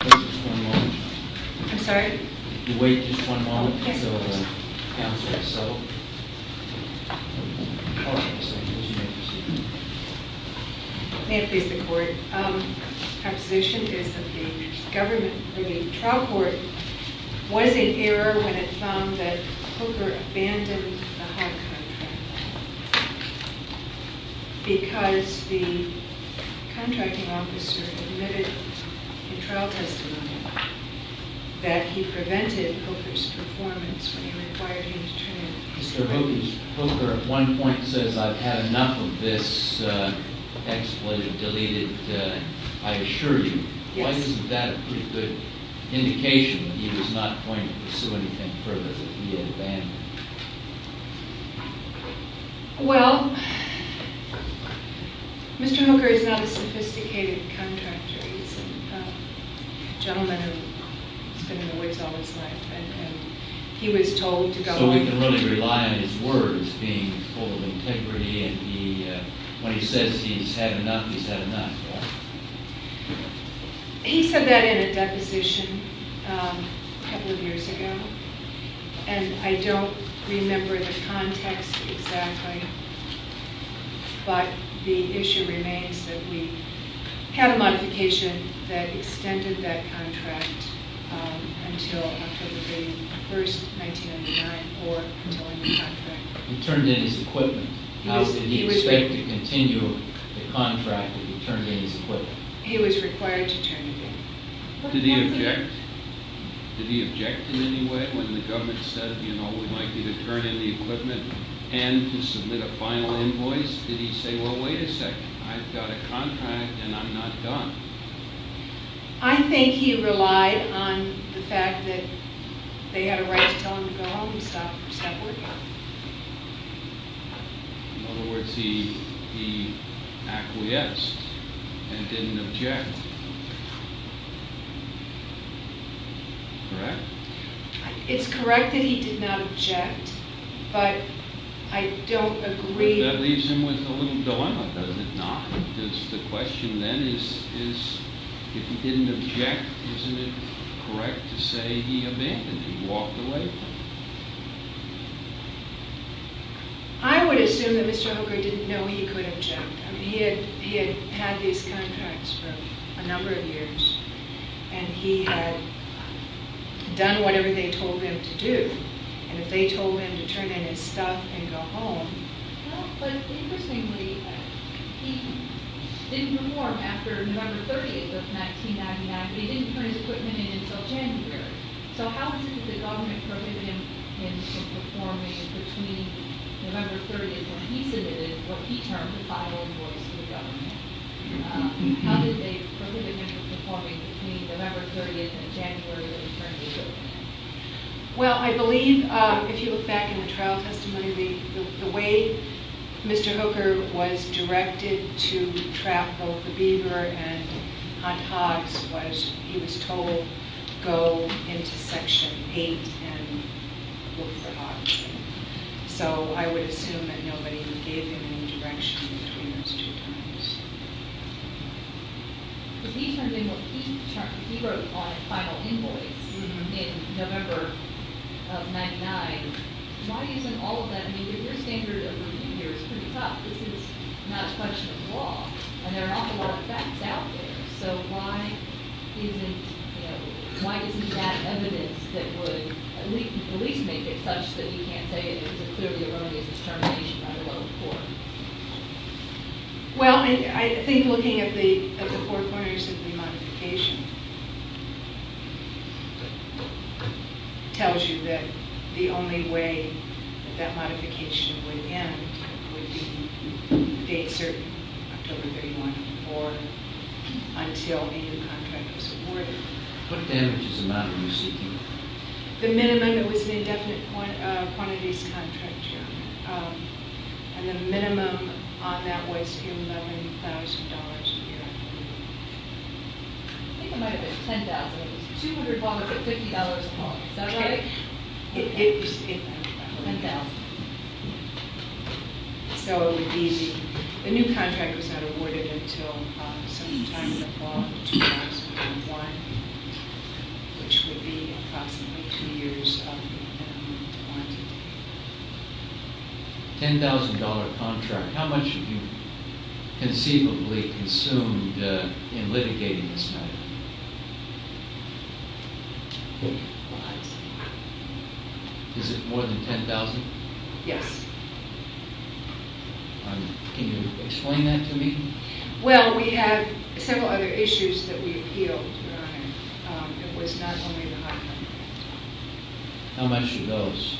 May it please the Court, the proposition is that the government, I mean the trial court was in error when it found that Cooker abandoned the HUD contract because the contracting officer admitted in trial testimony that he prevented Cooker's performance when he required him to turn it in. Mr. Hogan, Cooker at one point says I've had enough of this expletive deleted, I assure you. Yes. Isn't that a pretty good indication that he was not going to pursue anything further that he had abandoned? Well, Mr. Hooker is not a sophisticated contractor, he's a gentleman who's been in the woods all his life and he was told to go on. So we can really rely on his words being full of integrity and he, when he says he's had enough, he's had enough, right? He said that in a deposition a couple of years ago and I don't remember the context exactly but the issue remains that we had a modification that extended that contract until October the 1st, 1999 or until a new contract. He turned in his equipment, did he expect to continue the contract that he turned in his equipment? He was required to turn it in. Did he object? Did he object in any way when the government said, you know, we'd like you to turn in the equipment and to submit a final invoice? Did he say, well, wait a sec, I've got a contract and I'm not done? I think he relied on the fact that they had a right to tell him to go home and stop working. In other words, he acquiesced and didn't object. Correct? It's correct that he did not object but I don't agree. That leaves him with a little dilemma, does it not? Because the question then is, if he didn't object, isn't it correct to say he abandoned him, walked away from him? I would assume that Mr. Hooker didn't know he could object. He had had these contracts for a number of years and he had done whatever they told him to do. And if they told him to turn in his stuff and go home... Well, but interestingly, he didn't reform after November 30th of 1999. He didn't turn his equipment in until January. So how is it that the government prohibited him from performing between November 30th when he submitted what he termed a final invoice to the government? How did they prohibit him from performing between November 30th and January when he turned his equipment in? Well, I believe, if you look back in the trial testimony, the way Mr. Hooker was directed to trap both the Beaver and Hunt Hoggs was he was told, go into Section 8 and look for Hoggs. So I would assume that nobody would give him any direction between those two times. But he turned in what he wrote on a final invoice in November of 1999. Why isn't all of that... I mean, your standard of review here is pretty tough. This is not a question of law. And there are an awful lot of facts out there. So why isn't that evidence that would at least make it such that you can't say it was a clearly erroneous determination by the local court? Well, I think looking at the four corners of the modification tells you that the only way that that modification would end would be a date certain, October 31, or until a new contract was awarded. What damages amount are you seeking? The minimum, it was an indefinite quantities contract. And the minimum on that was $11,000 a year, I believe. I think it might have been $10,000. It was $200, $150 a month. Is that right? It was $10,000. $10,000. So the new contract was not awarded until sometime in the fall of 2001, which would be approximately two years of minimum quantity. $10,000 contract. How much have you conceivably consumed in litigating this matter? Lots. Is it more than $10,000? Yes. Can you explain that to me? Well, we have several other issues that we appealed. It was not only the high count. How much are those?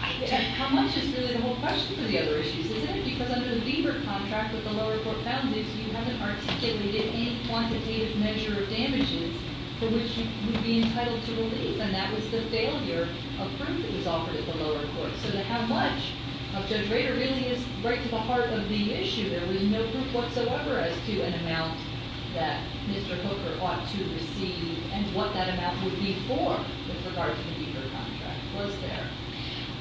How much is really the whole question for the other issues, isn't it? Because under the Lieber contract, what the lower court found is you haven't articulated any quantitative measure of damages for which you would be entitled to relief. And that was the failure of proof that was offered at the lower court. So how much of Judge Rader really is right to the heart of the issue? There was no proof whatsoever as to an amount that Mr. Hooker ought to receive and what that amount would be for with regard to the Lieber contract. Was there?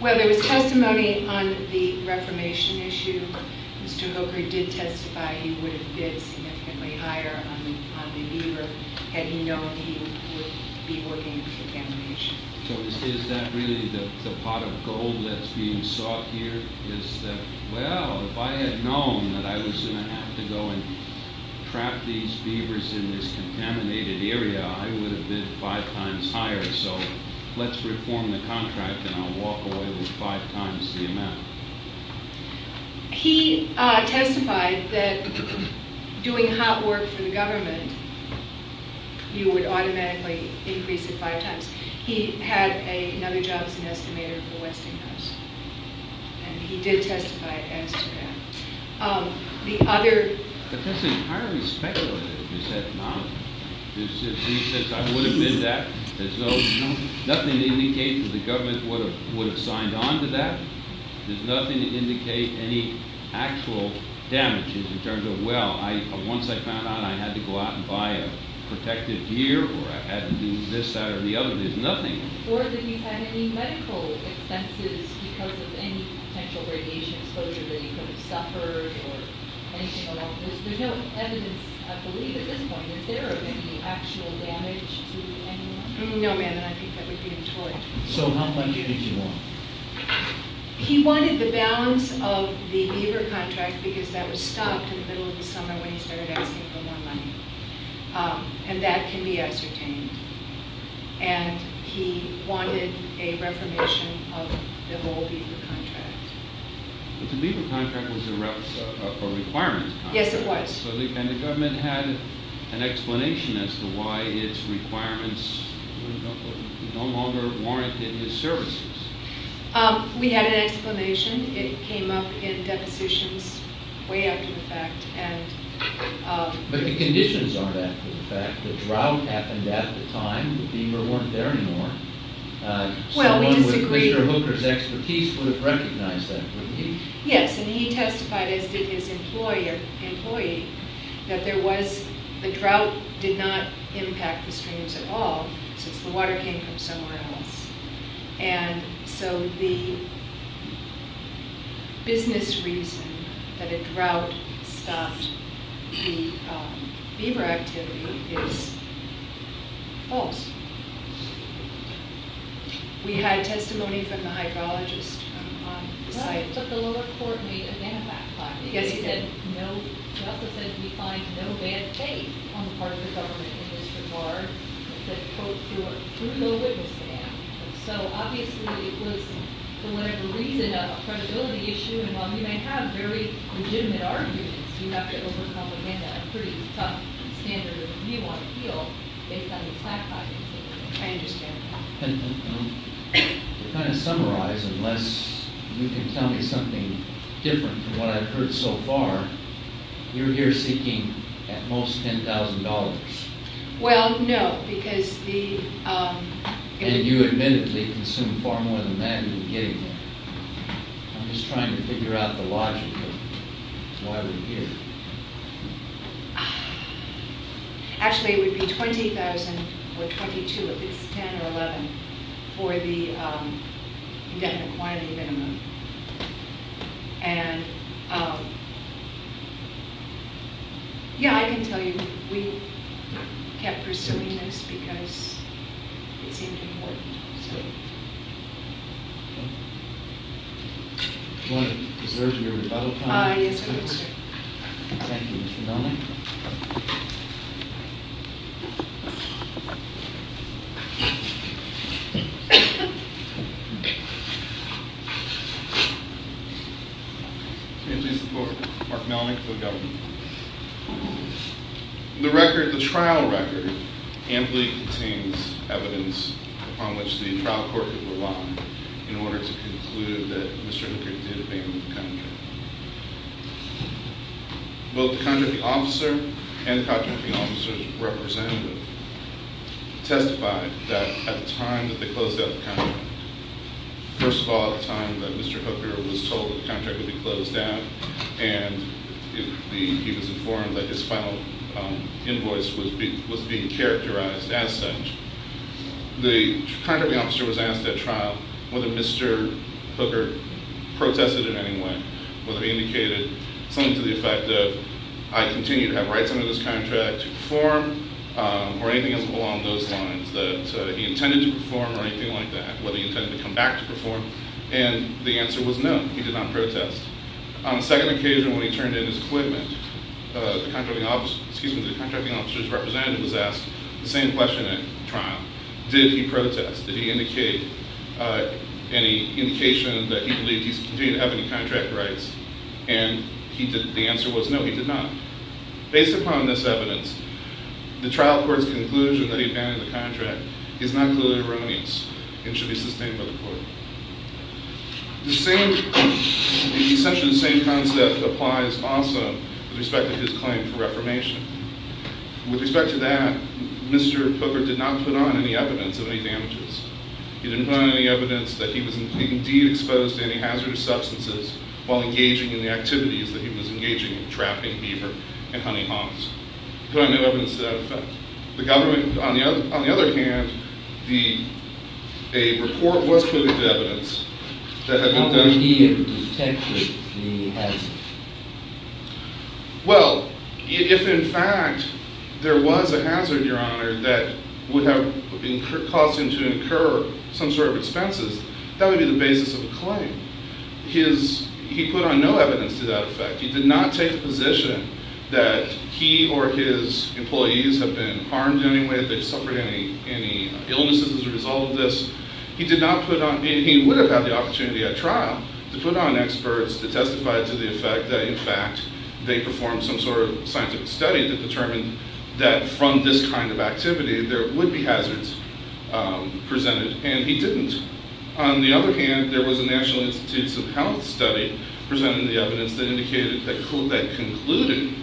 Well, there was testimony on the reformation issue. Mr. Hooker did testify he would have bid significantly higher on the Lieber had he known he would be working with the family nation. So is that really the pot of gold that's being sought here? Is that, well, if I had known that I was going to have to go and trap these beavers in this contaminated area, I would have bid five times higher. So let's reform the contract and I'll walk away with five times the amount. He testified that doing hot work for the government, you would automatically increase it five times. He had another job as an estimator for Westinghouse. And he did testify as to that. The other... But that's entirely speculative, is that not? He says I would have bid that. There's nothing to indicate that the government would have signed on to that. There's nothing to indicate any actual damages in terms of, well, once I found out I had to go out and buy a protective gear or I had to do this side or the other. There's nothing. Or that you had any medical expenses because of any potential radiation exposure that you could have suffered or anything along those lines. There's no evidence, I believe, at this point, that there are any actual damage to anyone. No, ma'am, and I think that would be untoward. So how much did he want? He wanted the balance of the Lieber contract because that was stopped in the middle of the summer when he started asking for more money. And that can be ascertained. And he wanted a reformation of the whole Lieber contract. But the Lieber contract was a requirement contract. Yes, it was. And the government had an explanation as to why its requirements no longer warranted his services. We had an explanation. It came up in depositions way after the fact. But the conditions aren't after the fact. The drought happened at the time. The Lieber weren't there anymore. Well, we disagree. So one with Mr. Hooker's expertise would have recognized that, wouldn't he? Yes, and he testified, as did his employee, that the drought did not impact the streams at all since the water came from somewhere else. And so the business reason that a drought stopped the Lieber activity is false. We had testimony from the hydrologist on the site. Yes, we did. I understand. To kind of summarize, unless you can tell me something different from what I've heard so far, you're here seeking at most $10,000. Well, no, because the... And you admittedly consumed far more than that in the beginning. I'm just trying to figure out the logic of why we're here. Actually, it would be $20,000 or $22,000, if it's $10,000 or $11,000, for the indefinite quantity minimum. Yeah, I can tell you, we kept pursuing this because it seemed important. Do you want to preserve your rebuttal time? Yes, I would, sir. Thank you, Mr. Melnyk. Mr. Melnyk. Mark Melnyk for the government. The record, the trial record, amply contains evidence upon which the trial court could rely in order to conclude that Mr. Hickory did abandon the country. Both the contracting officer and the contracting officer's representative testified that at the time that they closed out the contract, first of all, at the time that Mr. Hooker was told that the contract would be closed down and he was informed that his final invoice was being characterized as such, the contracting officer was asked at trial whether Mr. Hooker protested in any way, whether he indicated something to the effect of, I continue to have rights under this contract to perform, or anything along those lines, that he intended to perform or anything like that, whether he intended to come back to perform, and the answer was no, he did not protest. On the second occasion when he turned in his equipment, the contracting officer's representative was asked the same question at trial, did he protest, did he indicate any indication that he believed he continued to have any contract rights, and the answer was no, he did not. Based upon this evidence, the trial court's conclusion that he abandoned the contract is not clearly erroneous and should be sustained by the court. The same, essentially the same concept applies also with respect to his claim for reformation. With respect to that, Mr. Hooker did not put on any evidence of any damages. He didn't put on any evidence that he was indeed exposed to any hazardous substances while engaging in the activities that he was engaging in, trapping beaver and hunting hawks. He put on no evidence to that effect. The government, on the other hand, a report was put into evidence that had been done. How would he have detected the hazard? Well, if in fact there was a hazard, your honor, that would have caused him to incur some sort of expenses, that would be the basis of a claim. He put on no evidence to that effect. He did not take the position that he or his employees have been harmed in any way, they've suffered any illnesses as a result of this. He would have had the opportunity at trial to put on experts to testify to the effect that in fact they performed some sort of scientific study that determined that from this kind of activity there would be hazards presented, and he didn't. On the other hand, there was a National Institutes of Health study presenting the evidence that concluded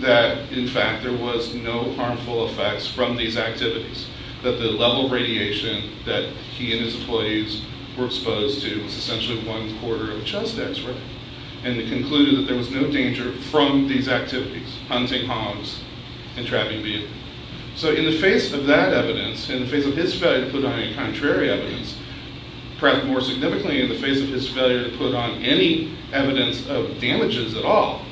that in fact there was no harmful effects from these activities, that the level of radiation that he and his employees were exposed to was essentially one quarter of a chest x-ray, and it concluded that there was no danger from these activities, hunting hawks and trapping beaver. So in the face of that evidence, in the face of his failure to put on any contrary evidence, perhaps more significantly in the face of his failure to put on any evidence of damages at all,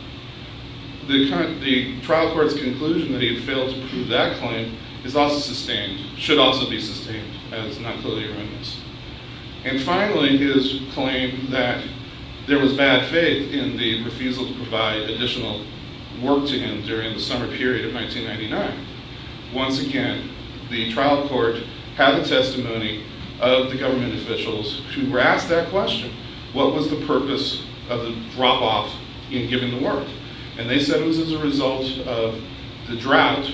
the trial court's conclusion that he had failed to prove that claim is also sustained, should also be sustained as non-clearly arraignments. And finally, his claim that there was bad faith in the refusal to provide additional work to him during the summer period of 1999. Once again, the trial court had the testimony of the government officials who were asked that question. What was the purpose of the drop-off in giving the work? And they said it was as a result of the drought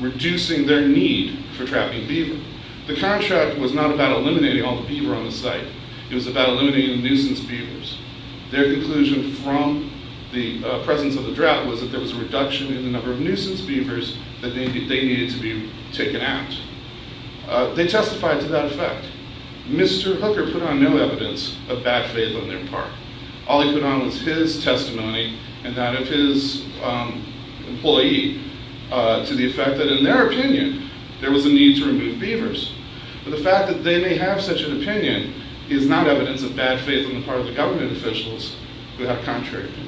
reducing their need for trapping beaver. The contract was not about eliminating all the beaver on the site. It was about eliminating the nuisance beavers. Their conclusion from the presence of the drought was that there was a reduction in the number of nuisance beavers that they needed to be taken out. They testified to that effect. Mr. Hooker put on no evidence of bad faith on their part. All he put on was his testimony and that of his employee to the effect that, in their opinion, there was a need to remove beavers. But the fact that they may have such an opinion is not evidence of bad faith on the part of the government officials who have contrary opinion.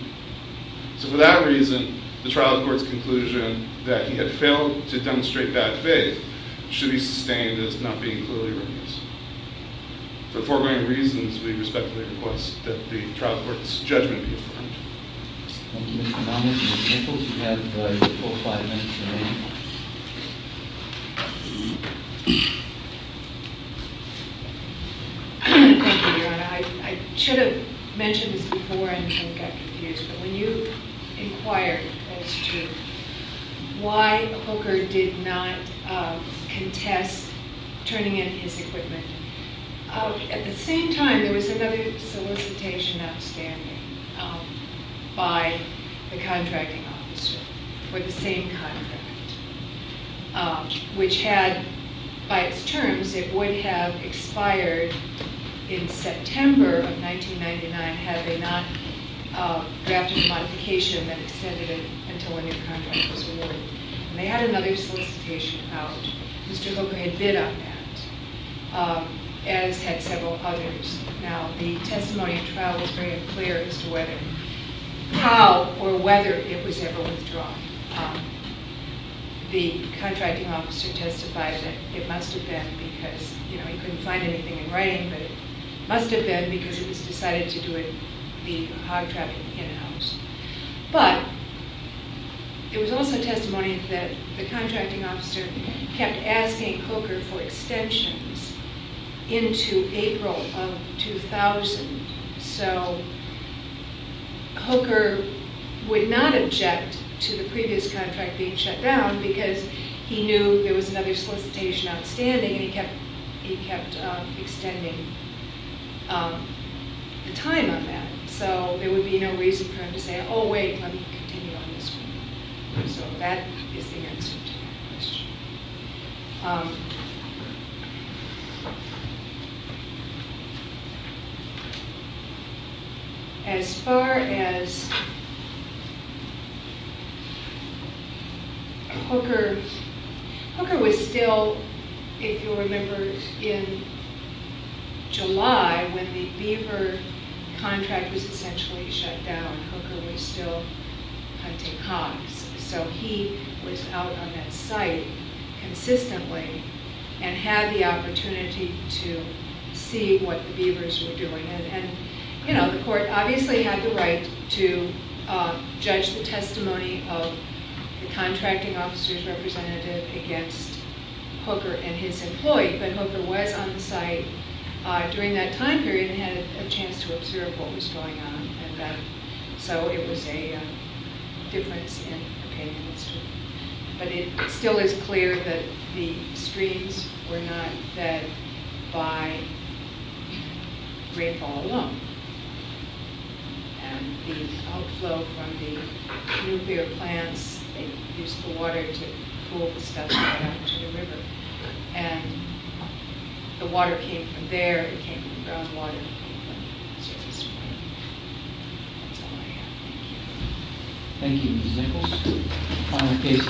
So for that reason, the trial court's conclusion that he had failed to demonstrate bad faith should be sustained as not being clearly arraignments. For foregoing reasons, we respectfully request that the trial court's judgment be affirmed. Thank you, Mr. Connell. Ms. Nichols, you have four or five minutes remaining. Thank you, Your Honor. I should have mentioned this before and got confused, but when you inquired as to why Hooker did not contest turning in his equipment, at the same time, there was another solicitation outstanding by the contracting officer for the same contract, which had, by its terms, it would have expired in September of 1999 had they not drafted a modification that extended it until a new contract was awarded. And they had another solicitation out. Mr. Hooker had bid on that, as had several others. Now, the testimony of the trial was very unclear as to how or whether it was ever withdrawn. The contracting officer testified that it must have been because, you know, he couldn't find anything in writing, but it must have been because it was decided to do it the hog-trapping in-house. But there was also testimony that the contracting officer kept asking Hooker for extensions into April of 2000. So Hooker would not object to the previous contract being shut down because he knew there was another solicitation outstanding, and he kept extending the time on that. So there would be no reason for him to say, oh, wait, let me continue on this one. So that is the answer to that question. As far as Hooker, Hooker was still, if you'll remember, in July when the Beaver contract was essentially shut down, Hooker was still hunting hogs. So he was out on that site consistently and had the opportunity to see what the Beavers were doing. And, you know, the court obviously had the right to judge the testimony of the contracting officer's representative against Hooker and his employee. But Hooker was on the site during that time period and had a chance to observe what was going on. So it was a difference in the payment history. But it still is clear that the streams were not fed by rainfall alone. And the outflow from the nuclear plants, they used the water to pull the stuff right out to the river. And the water came from there, it came from the groundwater, it came from the surface water. That's all I have. Thank you. Thank you, Ms. Nichols.